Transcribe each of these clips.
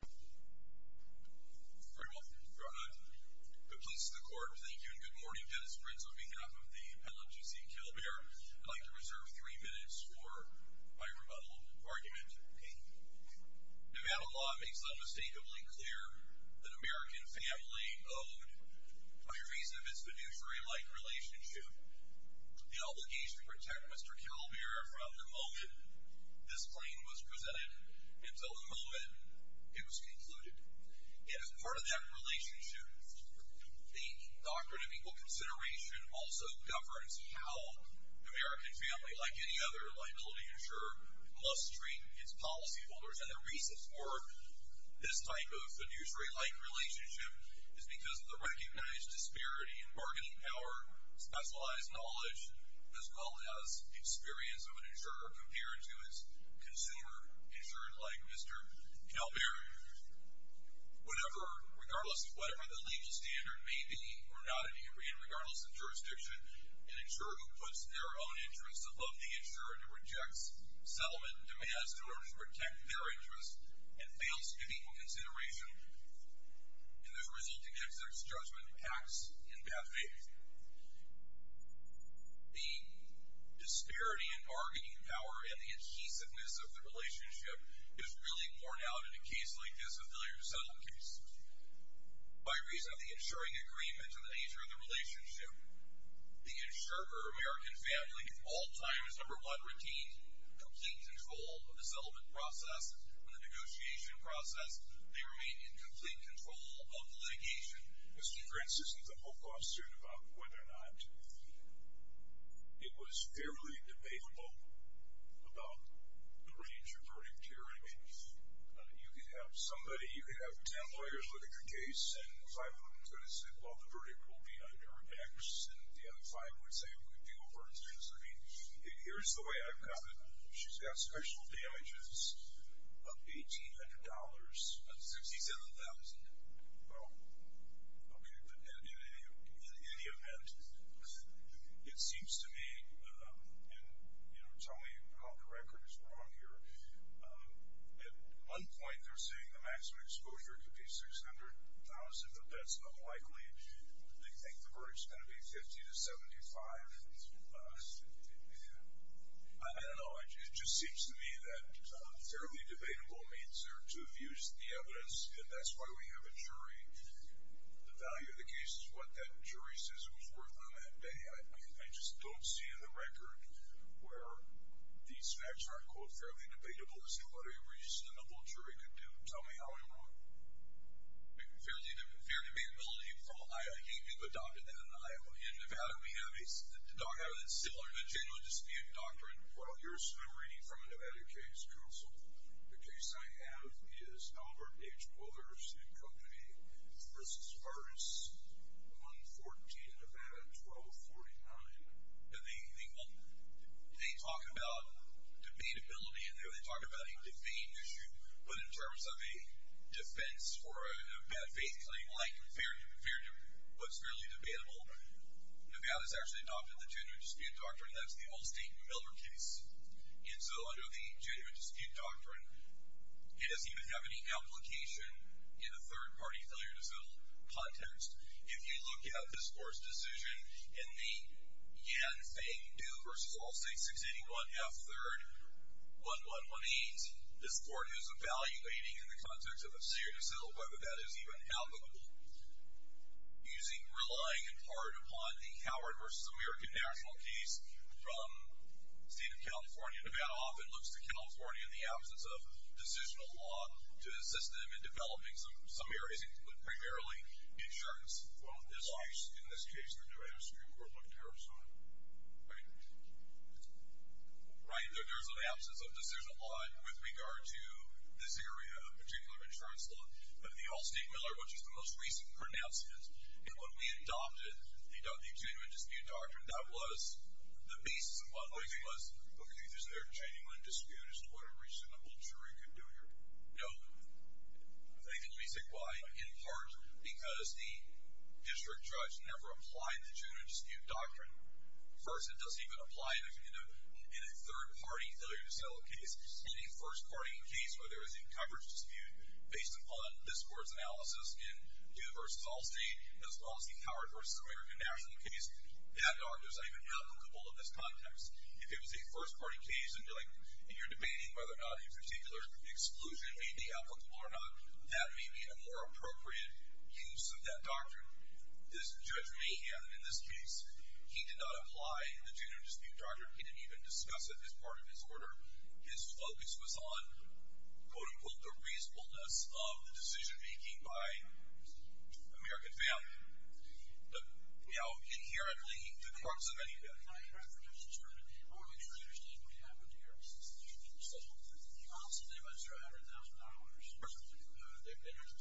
Very well. Go ahead. The police and the court, thank you and good morning. Dennis Prince on behalf of the LMGC Kalberer. I'd like to reserve three minutes for my rebuttal argument. Thank you. Nevada law makes unmistakably clear that American Family Owed, by reason of its fiduciary-like relationship, the obligation to protect Mr. Kalberer from emotion. This claim was presented until the moment it was concluded. And as part of that relationship, the Doctrine of Equal Consideration also governs how American Family, like any other liability insurer, must treat its policyholders. And the reason for this type of fiduciary-like relationship is because the recognized disparity in bargaining power, specialized knowledge, as well as experience of an insurer compared to its consumer, insured like Mr. Kalberer, would ever, regardless of whatever the legal standard may be, or not in Indian, regardless of jurisdiction, an insurer who puts their own interests above the insurer and rejects settlement demands in order to protect their interests and fails to give equal consideration, and as a result, it gets its judgment, acts in bad faith. The disparity in bargaining power and the adhesiveness of the relationship is really borne out in a case like this, a failure to settle case. By reason of the insuring agreement to the nature of the relationship, the insurer or American Family, at all times, number one, retains complete control of the settlement process and the negotiation process. They remain in complete control of the litigation. Mr. Prince isn't the whole question about whether or not it was fairly debatable about the range of verdict hearing. You could have somebody, you could have ten lawyers look at your case and five of them could have said, well, the verdict will be under an X, and the other five would say, well, we'll do it for an X. I mean, here's the way I've got it. She's got special damages of $1,800. $67,000. Well, in any event, it seems to me, and tell me how the record is wrong here, at one point they're saying the maximum exposure could be $600,000, but that's unlikely. They think the verdict's going to be 50 to 75. I don't know, it just seems to me that fairly debatable means they're to have used the evidence, and that's why we have a jury. The value of the case is what that jury says it was worth on that day. I just don't see in the record where these facts are, quote, fairly debatable as to what a reasonable jury could do. Tell me how I'm wrong. Fairly debatable. I can't give a doctor that. In Nevada, we have a similar legitimate dispute doctrine. Well, here's what I'm reading from a Nevada case counsel. The case I have is Albert H. Wilder's and Company v. Artis, 114, Nevada, 1249. They talk about debatability in there. They talk about a debate issue, but in terms of a defense for a bad faith claim, like fair judgment, what's really debatable, Nevada's actually adopted the two-judge dispute doctrine. That's the Allstate Miller case. And so under the two-judge dispute doctrine, it doesn't even have any application in a third-party failure to settle context. If you look at this court's decision in the Yan Fang Du v. Allstate 681 F. 3rd, 1118, this court is evaluating in the context of a failure to settle whether that is even helpable, relying in part upon the Howard v. American National case from the state of California. Nevada often looks to California in the absence of decisional law to assist them in developing some areas, including primarily the insurance laws. In this case, the Nevada Supreme Court looked at her son. Right? Right, there's an absence of decisional law with regard to this area of particular insurance law of the Allstate Miller, which is the most recent pronouncement. And when we adopted the two-judge dispute doctrine, that was the basis upon which it was... Okay, so there's a genuine dispute as to what a reasonable jury could do here. No. Nathan, let me say why. In part because the district judge never applied the two-judge dispute doctrine. First, it doesn't even apply in a third-party failure to settle case. Any first-party case where there is a coverage dispute based upon this court's analysis in Du v. Allstate as well as the Howard v. American National case, that doctrine is not even applicable in this context. If it was a first-party case and you're debating whether or not a particular exclusion may be applicable or not, that may be a more appropriate use of that doctrine. Judge Mahan, in this case, he did not apply the two-judge dispute doctrine. He didn't even discuss it as part of his order. His focus was on, quote-unquote, the reasonableness of the decision-making by American family. But, you know, inherently, the courts of any kind... My question is, sir, I want to make sure you understand what happened here. Allstate, they went $300,000. They've been here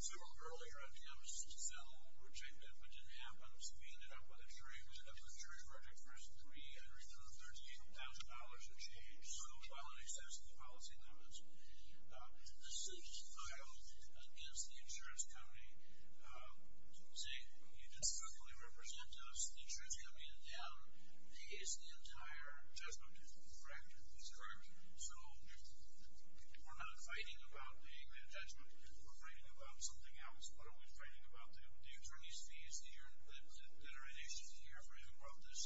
several earlier on campus to settle, which they did, but didn't happen. So we ended up with a jury project where it's $313,000 of change while in excess of the policy limits. This is filed against the insurance company, saying you disrespectfully represent us. The insurance company in town pays the entire judgment, correct? That's correct. So we're not fighting about the agreement of judgment. We're fighting about something else. What are we fighting about? The attorney's fee is here. There are issues here. Who brought this?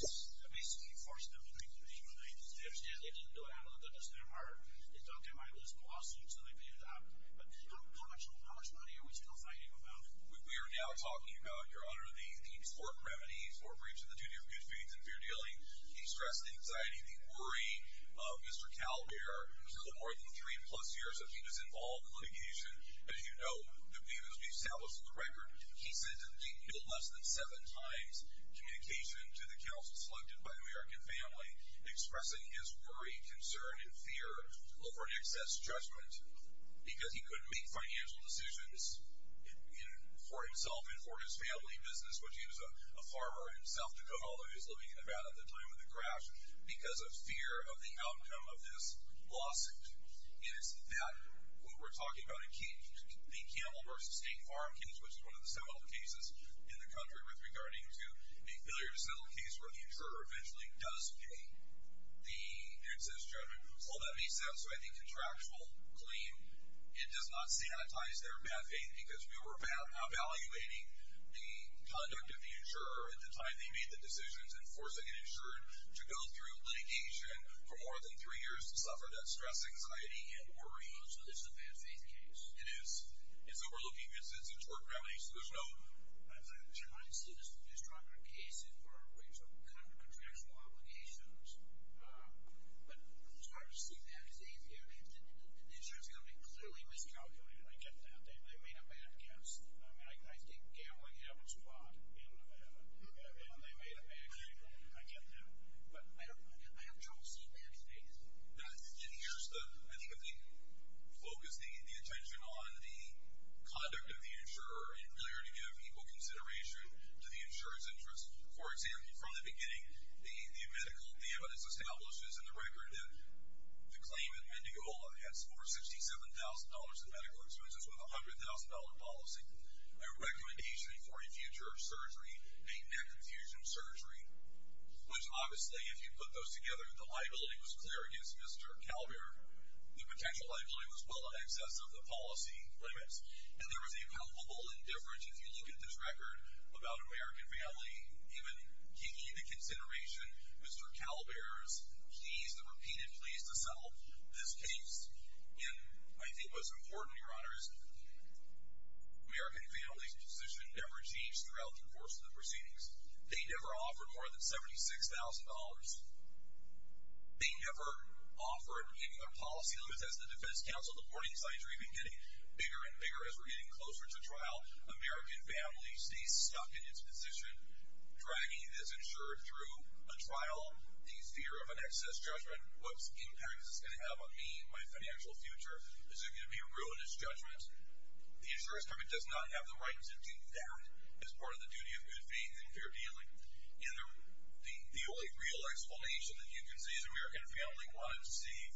Basically, he forced them to make the payment. They didn't do it. I don't understand why. They thought they might lose the lawsuit, so they paid it out. But how much money are we still fighting about? We are now talking about, Your Honor, the court remedies for breaching the duty of good faith and fair dealing. He stressed the anxiety, the worry of Mr. Calvert, who's had more than three-plus years that he was involved in litigation. As you know, the view that's been established in the record, he sent no less than seven times communication to the counsel selected by the American family, expressing his worry, concern, and fear over an excess judgment because he couldn't make financial decisions for himself and for his family business, which he was a farmer in South Dakota, although he was living in Nevada at the time of the crash, because of fear of the outcome of this lawsuit. And it's that, what we're talking about, the Campbell v. Hank Farmkins, which is one of the several cases in the country with regarding to a failure to settle case where the insurer eventually does pay the excess judgment. All that makes sense. So I think contractual claim, it does not sanitize their bad faith because we were evaluating the conduct of the insurer at the time they made the decisions in forcing an insurer to go through litigation for more than three years to suffer that stress, anxiety, and worry. So this is a bad faith case. It is. And so we're looking at this as a tort remedy, so there's no... I'm trying to see this to be a stronger case in terms of contractual obligations. But I'm starting to see that as a theory. The insurer's going to be clearly miscalculated. I get that. They made a bad case. I mean, I think Campbell would have a spot in that. I mean, they made a bad case. I get that. But I have trouble seeing that today. And here's the... I think if they focus the attention on the conduct of the insurer in order to give equal consideration to the insurer's interests. For example, from the beginning, the medical evidence establishes in the record that the claimant, Mendiola, has over $67,000 in medical expenses with a $100,000 policy, a recommendation for a future surgery, a neck infusion surgery, which, obviously, if you put those together, the liability was clear against Mr. Calvert. The potential liability was well in excess of the policy limits. And there was a palpable indifference, if you look at this record, about American family. Even giving the consideration, Mr. Calvert is pleased and repeated pleased to settle this case. And I think what's important, Your Honors, American family's position never changed throughout the course of the proceedings. They never offered more than $76,000. They never offered any other policy limits. As the defense counsel, the warning signs are even getting bigger and bigger as we're getting closer to trial, American family stays stuck in its position, dragging this insurer through a trial, these fear of an excess judgment, what impact is this going to have on me and my financial future? Is it going to be a ruinous judgment? The insurer's government does not have the right to do that as part of the duty of good faith and fair dealing. And the only real explanation that you can see is American family wanted to save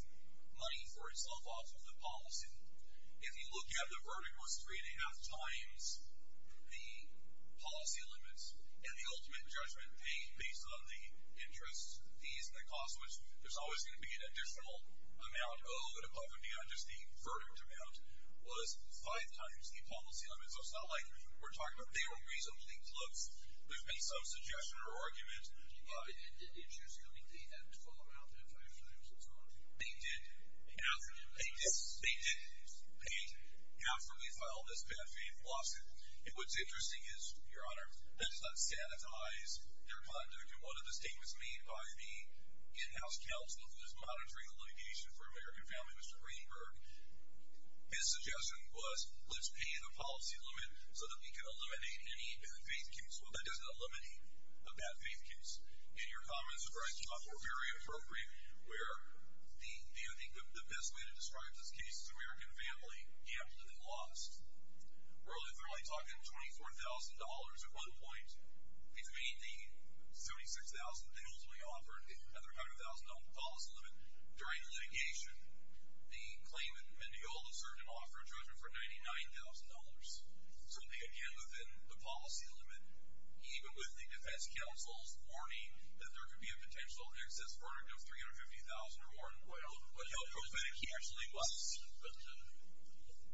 money for itself off of the policy. If you look at the verdict was 3 1⁄2 times the policy limits and the ultimate judgment based on the interest, fees, and the cost, which there's always going to be an additional amount, oh, but above and beyond just the verdict amount, was 5 times the policy limits. So it's not like we're talking about they were reasonably close. There's been some suggestion or argument. Did the insurance company pay that $12,000 out there to pay for their insurance policy? They did pay it after we filed this bad faith lawsuit. And what's interesting is, Your Honor, that does not sanitize their conduct. In one of the statements made by the in-house counsel who is monitoring the litigation for American family, Mr. Greenberg, his suggestion was, let's pay the policy limit so that we can eliminate any bad faith case. Well, that does not eliminate a bad faith case. And your comments were very appropriate where the best way to describe this case is American family absolutely lost. We're only clearly talking $24,000 at one point. Between the $36,000 they ultimately offered and their $100,000 policy limit, during the litigation, the claimant, Mendiola, served an offer of $299,000. So they again, within the policy limit, even with the defense counsel's warning that there could be a potential excess verdict of $350,000 or more, Well, he actually was. But the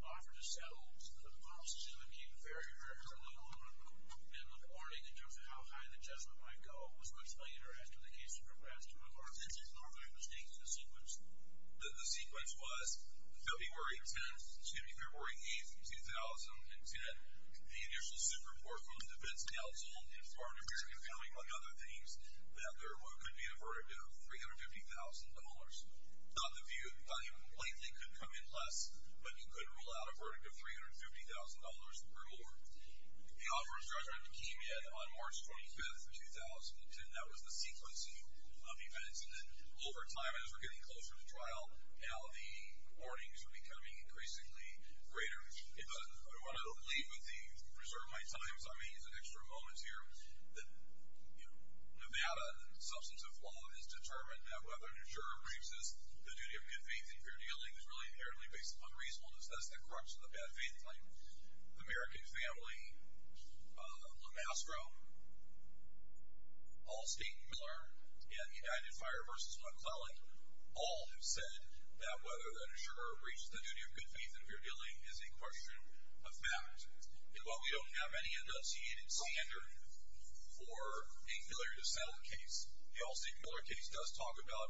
offer to settle the policy limit became a barrier for a little while. And the warning in terms of how high the judgment might go was much later after the case progressed to a large incident. Are there mistakes in the sequence? The sequence was February 10th, 2003, morning of the 8th, 2010. The initial super report from the defense counsel informed a very compelling among other things that there could be a verdict of $350,000. Now, the view, the claimant could come in less, but he could rule out a verdict of $350,000 or more. The offer was dragged out of the key yet on March 25th, 2010. That was the sequencing of the incident. Over time, as we're getting closer to trial, now the warnings are becoming increasingly greater. I want to leave with the preserve my time, so I'm going to use an extra moment here. Nevada, the substance of law, has determined that whether an insurer breaches the duty of good faith and fair dealing is really inherently based upon reasonableness. That's the crux of the bad faith claim. American Family, LeMastro, Allstate, Miller, and United Fire v. McClellan all have said that whether an insurer breaches the duty of good faith and fair dealing is a question of fact. And while we don't have any enunciated standard for a killer to settle a case, the Allstate-Miller case does talk about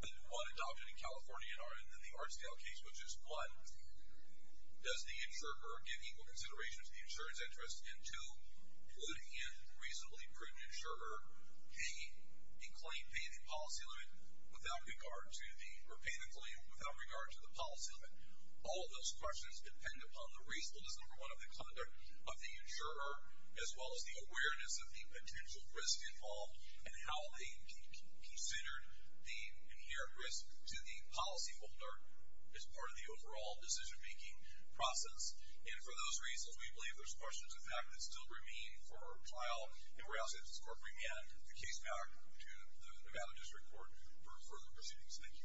the one adopted in California and then the Artsdale case, which is one, does the insurer give equal consideration to the insurer's interests? And two, would a reasonably proven insurer pay the policy limit without regard to the policy limit? All of those questions depend upon the reasonableness, number one, of the conduct of the insurer, as well as the awareness of the potential risks involved and how they consider the inherent risk to the policyholder as part of the overall decision-making process. And for those reasons, we believe there's questions of fact that still remain for our trial. And we're asking this Court to bring back the case back to the Nevada District Court for further proceedings. Thank you. Thank you.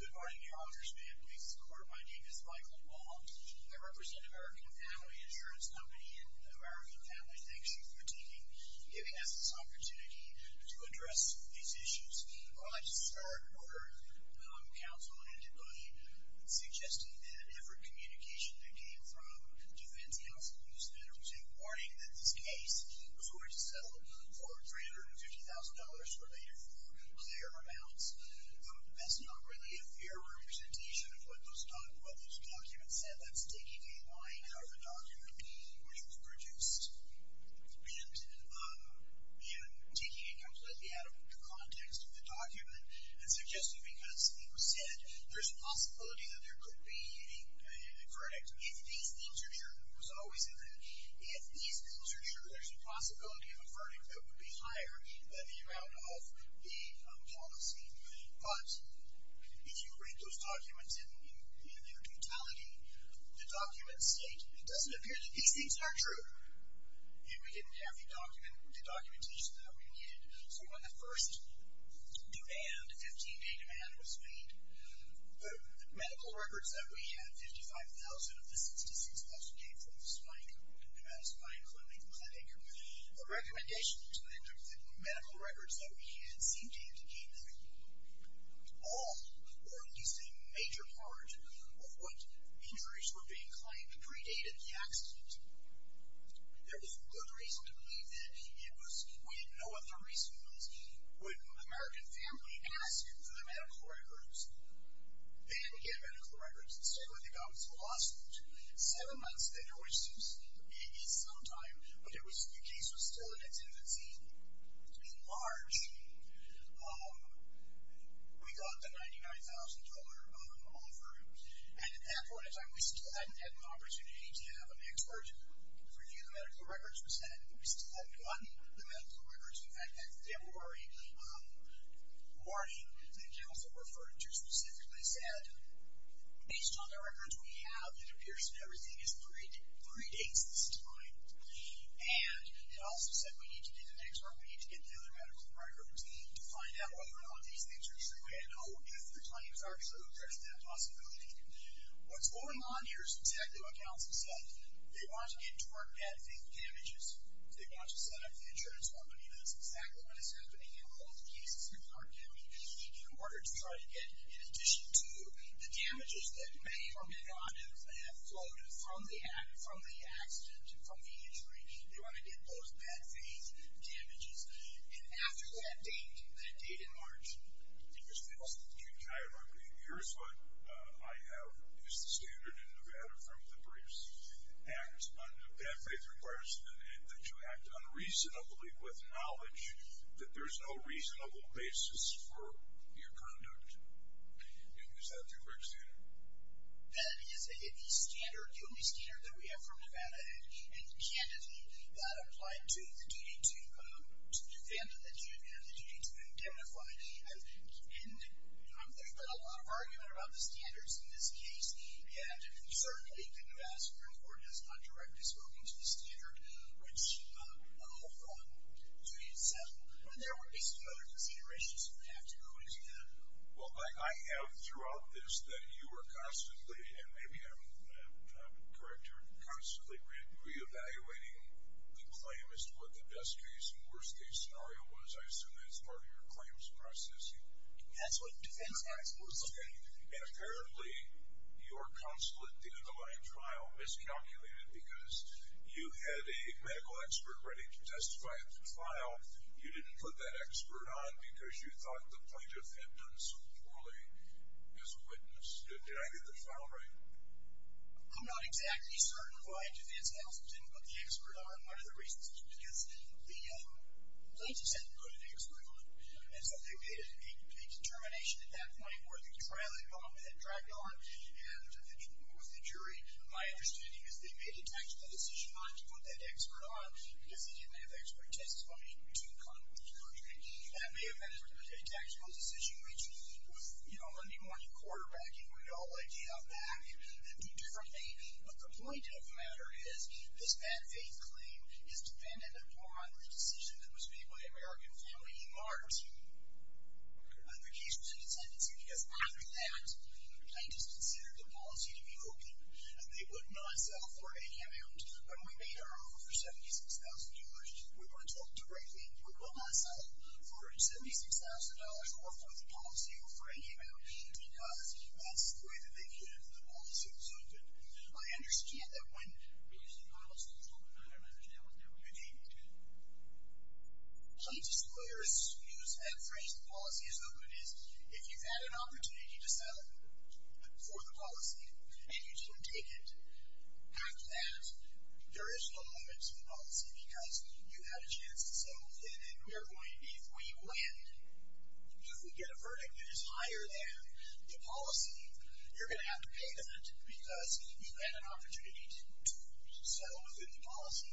Good morning, Your Honors. May it please the Court, my name is Michael Wald. I represent American Family Insurance Company and the American Family thanks you for taking, giving us this opportunity to address these issues. I'd like to start by counseling and suggesting that every communication that came from Defense Counsel Houston was a warning that this case was going to settle for $350,000 or later for clear amounts. That's not really a fair representation of what those documents said. That's taking a line out of a document which was produced and taking it completely out of the context of the document and suggesting because it was said there's a possibility that there could be a verdict. If these things are true, it was always in there. If these things are true, there's a possibility of a verdict that would be higher than the amount of the policy. But if you read those documents in their totality, the documents state it doesn't appear that these things are true. And we didn't have the documentation that we needed. So when the first 15-day demand was made, the medical records that we had, 55,000 of the 66,000 came from the spine, the pneumatic spine, including the clavicle. The medical records that we had seemed to indicate that all or at least a major part of what injuries were being claimed predated the accident. There was good reason to believe that it was We didn't know what the reason was. When American family asked for the medical records, they didn't get medical records. So they got them to the law school. Seven months later, which seems maybe some time, but the case was still in its infancy. In March, we got the $99,000 offer. And at that point in time, we still hadn't had an opportunity to have an expert review the medical records. We still hadn't gotten the medical records. In fact, back in February morning, the counsel referred to specifically said, based on the records we have, it appears that everything is three days this time. And it also said we need to get an expert. We need to get the other medical records to find out whether or not these things are true and if the claims are true, there's that possibility. What's going on here is exactly what counsel said. They want to get to our bad faith damages. They want to set up insurance company. That's exactly what is happening in both cases in our county. In order to try to get, in addition to the damages that may or may not have flowed from the accident, from the injury, they want to get those bad faith damages. And after that date, that date in March, there's bills that get tied up. Here's what I have. Is the standard in Nevada from the briefs? Act on bad faith requires that you act unreasonably with knowledge that there's no reasonable basis for your conduct. Is that the correct standard? That is the only standard that we have from Nevada. And candidly, that applied to the duty to defend and the duty to identify. And there's been a lot of argument about the standards in this case. And certainly, the Nevada Supreme Court has not directly spoken to the standard, which I'll hold on to in itself. But there were basically other considerations that would have to go into that. Well, I have throughout this that you are constantly, and maybe I'm correct, you're constantly reevaluating the claim as to what the best case and worst case scenario was. I assume that's part of your claims process. That's what defense acts were saying. And apparently, your consulate, the underlying trial, miscalculated because you had a medical expert ready to testify at the trial. You didn't put that expert on because you thought the plaintiff had done so poorly as a witness. Did I get that file right? I'm not exactly certain why defense acts didn't put the expert on. One of the reasons is because the plaintiffs hadn't put an expert on. And so they made a determination at that point where the trial involvement had dragged on. And it was the jury. My understanding is they made a tactical decision not to put that expert on because they didn't have expert testimony to the contrary. That may have been a tactical decision, which with, you know, Monday morning quarterbacking, we'd all like to have that and do differently. But the point of the matter is this bad faith claim is dependent upon the decision that was made by the American family in March. The case was in attendance here because after that, the plaintiffs considered the policy to be open. They would not sell for any amount. When we made our offer for $76,000, we were told directly we will not sell for $76,000 or for the policy or for any amount because that's the way that they could if the policy was open. I understand that when... Okay. Plaintiffs' lawyers use that phrase the policy is open is if you've had an opportunity to settle for the policy and you don't take it, after that, there is no moment to the policy because you've had a chance to settle and we are going to be the way you land. If we get a verdict that is higher than the policy, you're going to have to pay that because you've had an opportunity to sell within the policy.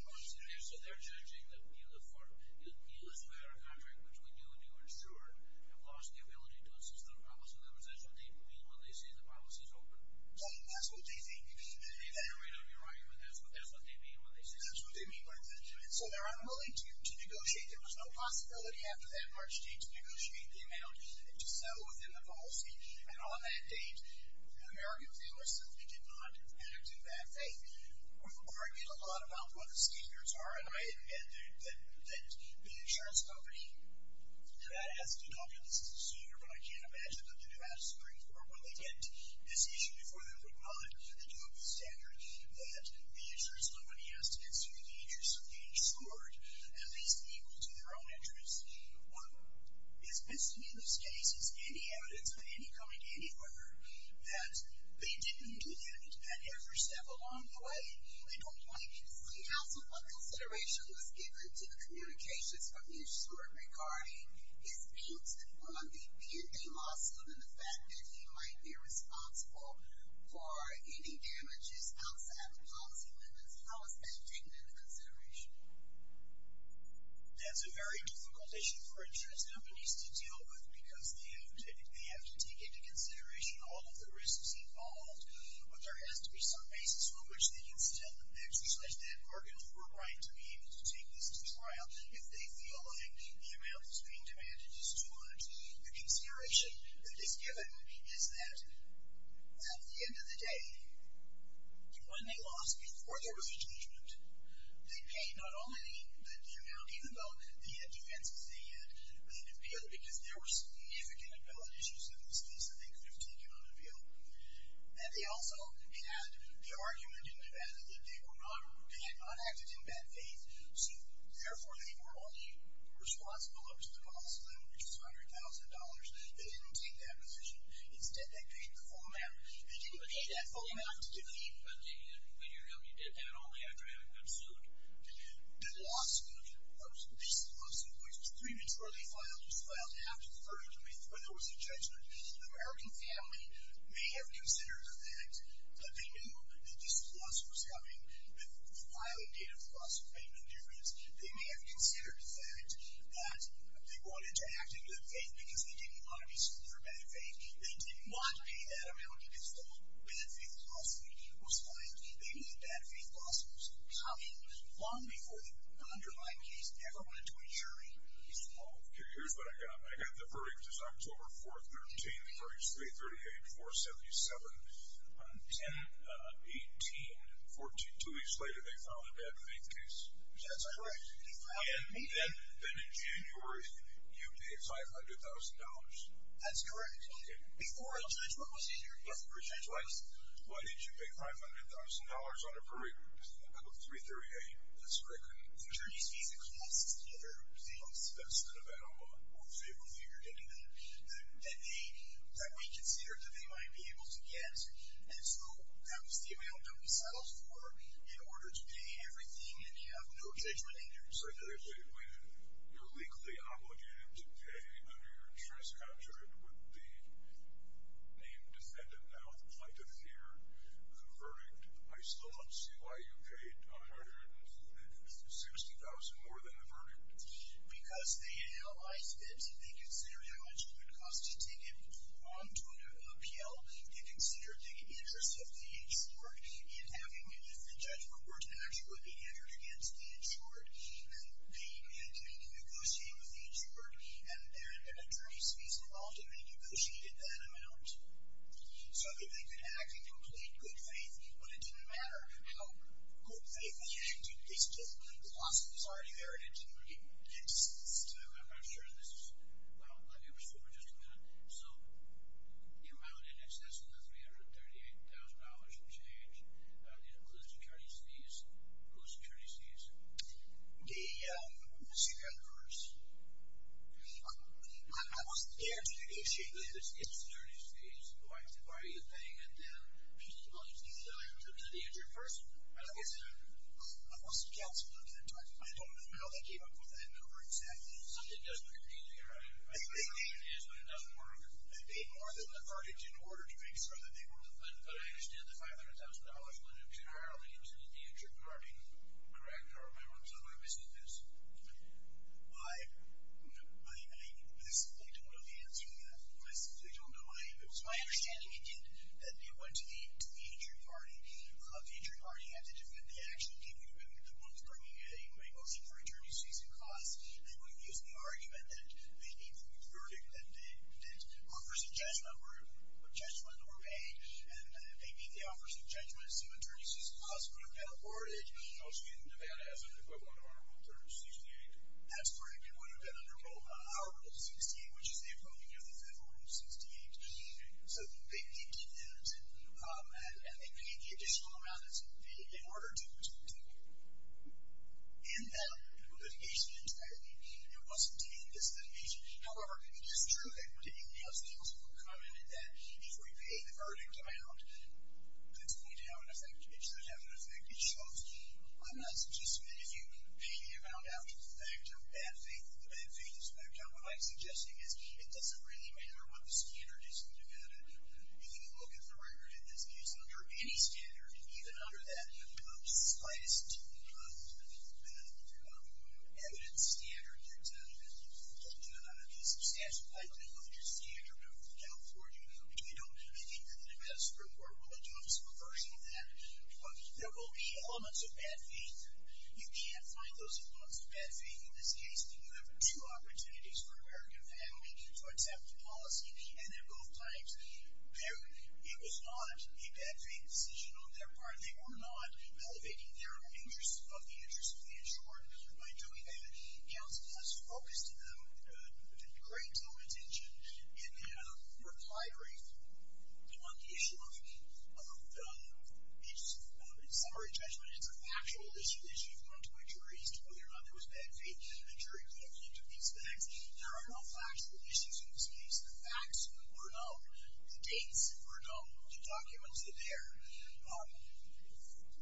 So they're judging that we look for a better contract which we do and do ensure have lost the ability to assist their promise and that's what they mean when they say the policy is open. That's what they think. That's what they mean when they say that. So they're unwilling to negotiate. There was no possibility after that March date to negotiate the amount to sell within the policy and on that date, the American family simply did not act in that faith. We've argued a lot about what the standards are and I admit that the insurance company that has a good option, this is a senior, but I can't imagine that the Nevada Supreme Court when they get to this issue before they're put on the DOPA standard that the insurance company has to consider the issue so they ensure that it is equal to their own interest. What is missing in this case is any evidence of any coming anywhere that they didn't do that and every step along the way they don't want you to see how some of the consideration was given to the communications from the insurer regarding his views on the B&A lawsuit and the fact that he might be responsible for any damages outside the policy limits. How is that taken into consideration? That's a very difficult issue for insurance companies to deal with because they have to take into consideration all of the risks involved but there has to be some basis on which they can still exercise that bargaining right to be able to take this to trial if they feel like the amount that's being demanded is too much. The consideration that is given is that at the end of the day when they lost before there was a judgment, they paid not only the amount even though the defenses they had because there were significant liability issues in this case that they could have taken on appeal and they also had the argument in Nevada that they were not they had not acted in bad faith so therefore they were only responsible over to the policy limit which was $100,000. They didn't take that position. Instead they paid the full amount. They didn't pay that full amount but when you're held you did that only after having been sued. The lawsuit which was three weeks before they filed was filed after 30 when there was a judgment. The American family may have considered the fact that they knew that this lawsuit was coming but the filing date of the lawsuit made no difference. They may have considered the fact that they wanted to act in good faith because they didn't want to be sued for bad faith. They didn't want to pay that amount because the whole bad faith lawsuit was filed. They knew that bad faith lawsuit was coming long before the underlying case ever went to a jury. Here's what I got. I got the verdict this October 4th, 1933 338-477 10-18 two weeks later they filed a bad faith case. That's correct. Then in January you paid $500,000. That's correct. Before a judgment was issued before a judgment was issued. Why did you pay $500,000 on a verdict of 338? That's correct. The attorney's fees, the costs together, the cost of that amount, that we considered that they might be able to get and so that was the amount that we settled for in order to pay everything and have no judgment in your case. When you're legally obligated to pay under your transcript would the named defendant now apply to hear the verdict? I still don't see why you paid $160,000 more than the verdict. Because they analyzed it they considered how much it would cost to take it on to an appeal and considered the interest of the insured in having a judgment where an action would be entered against the insured. They continued negotiating with the insured and an attorney's fees involved and they negotiated that amount so that they could actually complete good faith but it didn't matter how good faith they changed it. They still lost it. It's already there. I'm not sure this is let me restore it just a minute. So the amount in excess of the $338,000 will change. It includes attorney's fees. Who's the attorney's fees? The secret inverse. I wasn't there to negotiate this. It's the attorney's thing. Did I go to the insured first? I don't know. I don't know how they came up with that number exactly. The main thing is when it doesn't work, they paid more than the verdict in order to make sure that they were the funder. But I understand the $500,000 generally goes to the insured. Correct? I I don't know the answer to that. I simply don't know. It's my understanding that it went to the insured party. The insured party had to do it. They actually came to the room and the one who's bringing it in was the attorney's fees and costs. I wouldn't use the argument that they came from a verdict that offers a judge number of judgment or pay and maybe the office of judgment some attorney's fees and costs would have been afforded in Nevada as an equivalent of an attorney's fees and aid. That's correct. It would have been under both. Our rule of 60, which is the equivalent of the federal rule of 60. So they did that and they paid the additional amount in order to end that litigation entirely. It wasn't to end this litigation. However, it is true that when the appeals court commented that if we pay the verdict amount it's going to have an effect. It should have an effect. It should. I'm not suggesting that if you pay the amount after the fact it's a bad thing. What I'm suggesting is it doesn't really matter what the standard is in Nevada. If you look at the record it's under any standard, even under that slightest evidence standard. You can't do that. If you look at your standard of California I think the Nevada Supreme Court will adopt some version of that. There will be elements of bad faith. You can't find those elements of bad faith in this case. You have two opportunities for an American family to accept policy and at both times it was not a bad faith decision on their part. They were not elevating their interest of the interest of the insured by doing that. Counsel has focused great attention and reply rate on the issue of in summary judgment it's a factual issue. You've gone to a jury and asked whether or not it was bad faith. The jury took these facts. There are no factual issues in this case. The facts were known. The dates were known. The documents were there.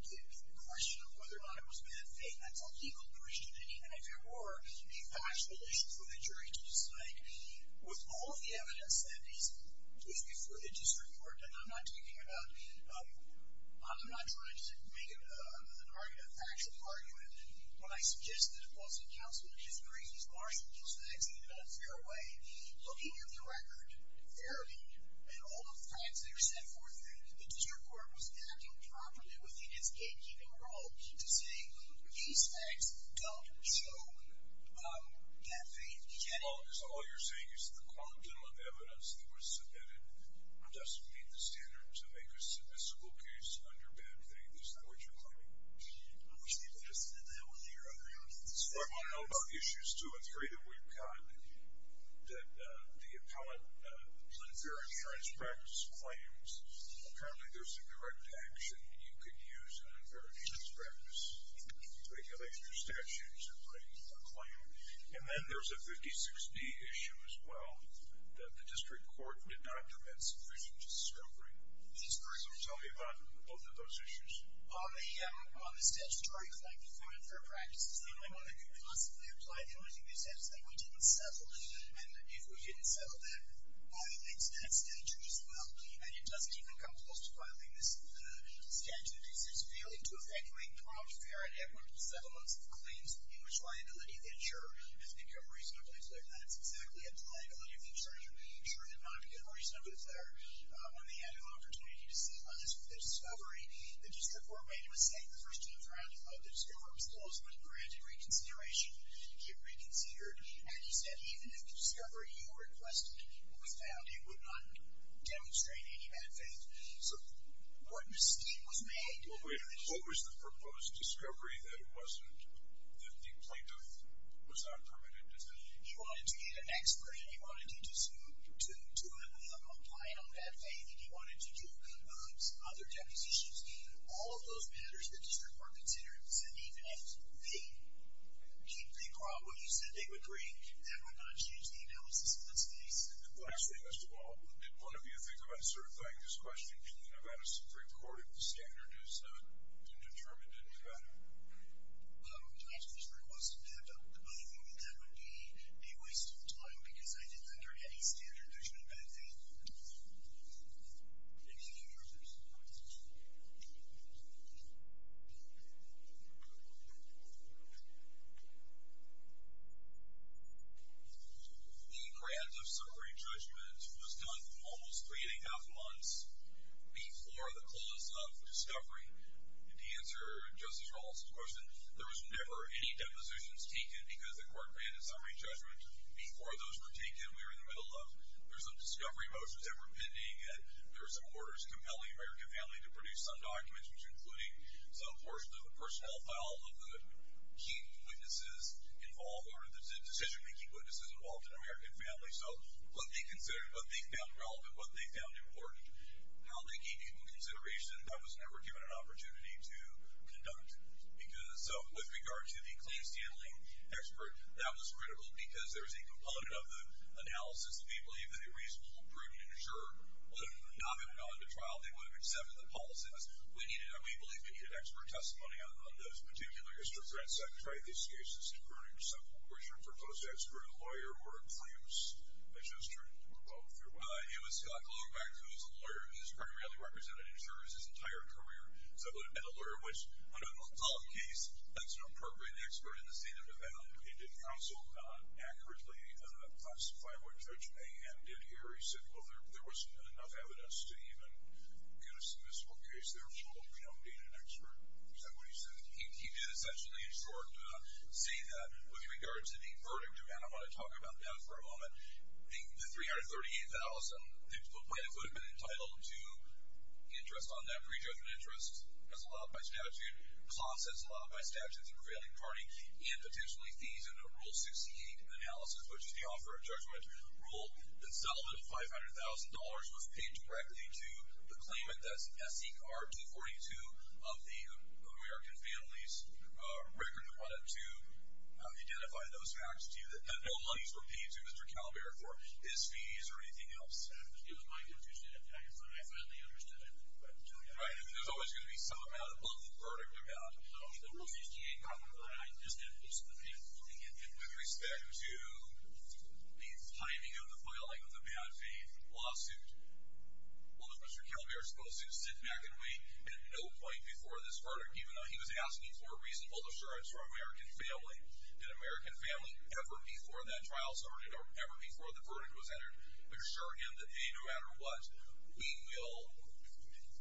The question of whether or not it was bad faith, that's a legal question and even if there were a factual issue for the jury to decide with all of the evidence that is before the district court and I'm not talking about I'm not trying to make it a factual argument. What I suggested was that counsel just bring these large legal stacks in a fair way looking at the record and all the facts that are set forth, the district court was acting properly within its gatekeeping role to say these facts don't show that faith. All you're saying is the quantum of evidence that was submitted doesn't meet the standards to make a submissible case under bad faith. Is that what you're claiming? Most people just send that one here. So I want to know about issues two and three that we've got that the appellant unfair insurance practice claims. Apparently there's a correct action you can use on unfair insurance practice to make an extra statute to bring a claim. And then there's a 56D issue as well that the district court did not do that sufficient discovery. So tell me about both of those issues. On the statutory claim for unfair practices the only one that could possibly apply the only thing they said is that we didn't settle and if we didn't settle that violates that statute as well and it doesn't even come close to violating this statute because it's failing to effectuate proper, fair, and equitable settlements of claims in which liability is ensured. That's exactly a liability of insurance. I'm sure they're not a good reason, but it's one they had an opportunity to see on this discovery. The district court made a mistake the first two rounds of the discovery. It was close, but it granted reconsideration to get reconsidered and instead even if the discovery you requested was found it would not demonstrate any bad faith. So what mistake was made? What was the proposed discovery that it wasn't that the plaintiff was not permitted to tell you? He wanted to get an explanation. He wanted to apply it on bad faith. He wanted to do some other depositions. All of those matters the district court considered said even if they probably said they would agree that we're going to change the analysis in this case. Actually, Mr. Ball, did one of you think about certifying this question? Can you have had a Supreme Court standard as determined in Nevada? Um, that would be a waste of time because I didn't enter any standard judgment on bad faith. The grant of separate judgment was done almost three and a half months before the clause of discovery. To answer Justice Ball's question, there was never any depositions taken because the court granted summary judgment before those were taken. We were in the middle of, there were some discovery motions that were pending and there were some orders compelling the American family to produce some documents which included some portion of the personnel file of the key witnesses involved or the decision-making witnesses involved in the American family. So what they considered, what they found relevant, what they found important, how they gave people consideration. I was never given an opportunity to conduct because, so, with regard to the clean-standing expert, that was critical because there's a component of the analysis that we believe that a reasonable and prudent insurer would have not have gone to trial. They would have accepted the policies. We needed, and we believe, we needed expert testimony on this. Mr. French, have you tried these cases to furnish some coercion for close expert, a lawyer, or a crimes adjuster? It was Scott Glowback who was a lawyer. He's pretty rarely represented insurers his entire career. So he would have been a lawyer, which, on an adult case, that's an appropriate expert in the state of Nevada. He did counsel accurately, classified what Judge Mayhem did here. He said, well, there wasn't enough evidence to even get a submissible case. There was trouble, you know, being an expert. Is that what he said? He did essentially in short say that with regard to the verdict, and I want to talk about that for a moment, the $338,000, the plaintiff would have been entitled to interest on that pre-judgment interest as allowed by statute, clause as allowed by statute, the prevailing party, and potentially fees under Rule 68 Analysis, which is the Offer of Judgment Rule, the settlement of $500,000 was paid directly to the claimant, that's S.E.R. D-42 of the American Families Record Credit to identify those facts to you that no monies were paid to Mr. Calabar for his fees or anything else. It was my confusion at that point. I finally understood it. Right, I mean, there's always going to be some amount above the verdict amount. So, Rule 68, I just didn't listen to him. With respect to the timing of the filing of the bad faith lawsuit, was Mr. Calabar supposed to sit back and wait at no point before this verdict, even though he was asking for an American family ever before that trial started or ever before the verdict was entered, assuring him that no matter what, we will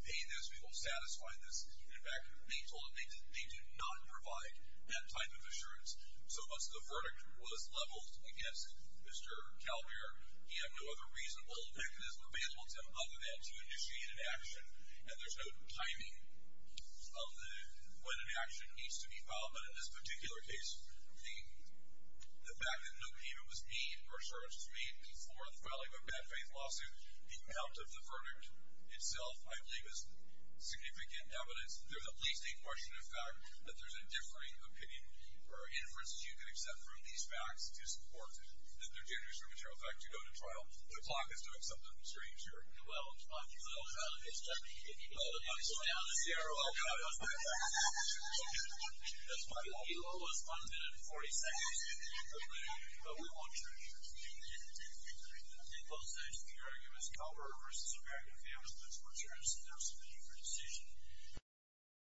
pay this, we will satisfy this. In fact, they told him they do not provide that type of assurance. So once the verdict was leveled against Mr. Calabar, he had no other reasonable mechanism available to him other than to initiate an action, and there's no timing of when an action needs to be filed. But in this particular case, the fact that no payment was made or assurance was made before the filing of a bad faith lawsuit, the amount of the verdict itself, I believe, is significant evidence. There's at least a portion of fact that there's a differing opinion or inference that you can accept from these facts to support that there did result in your effect to go to trial. The clock is doing something strange here. Well, on the other hand, on the Sierra Leone........................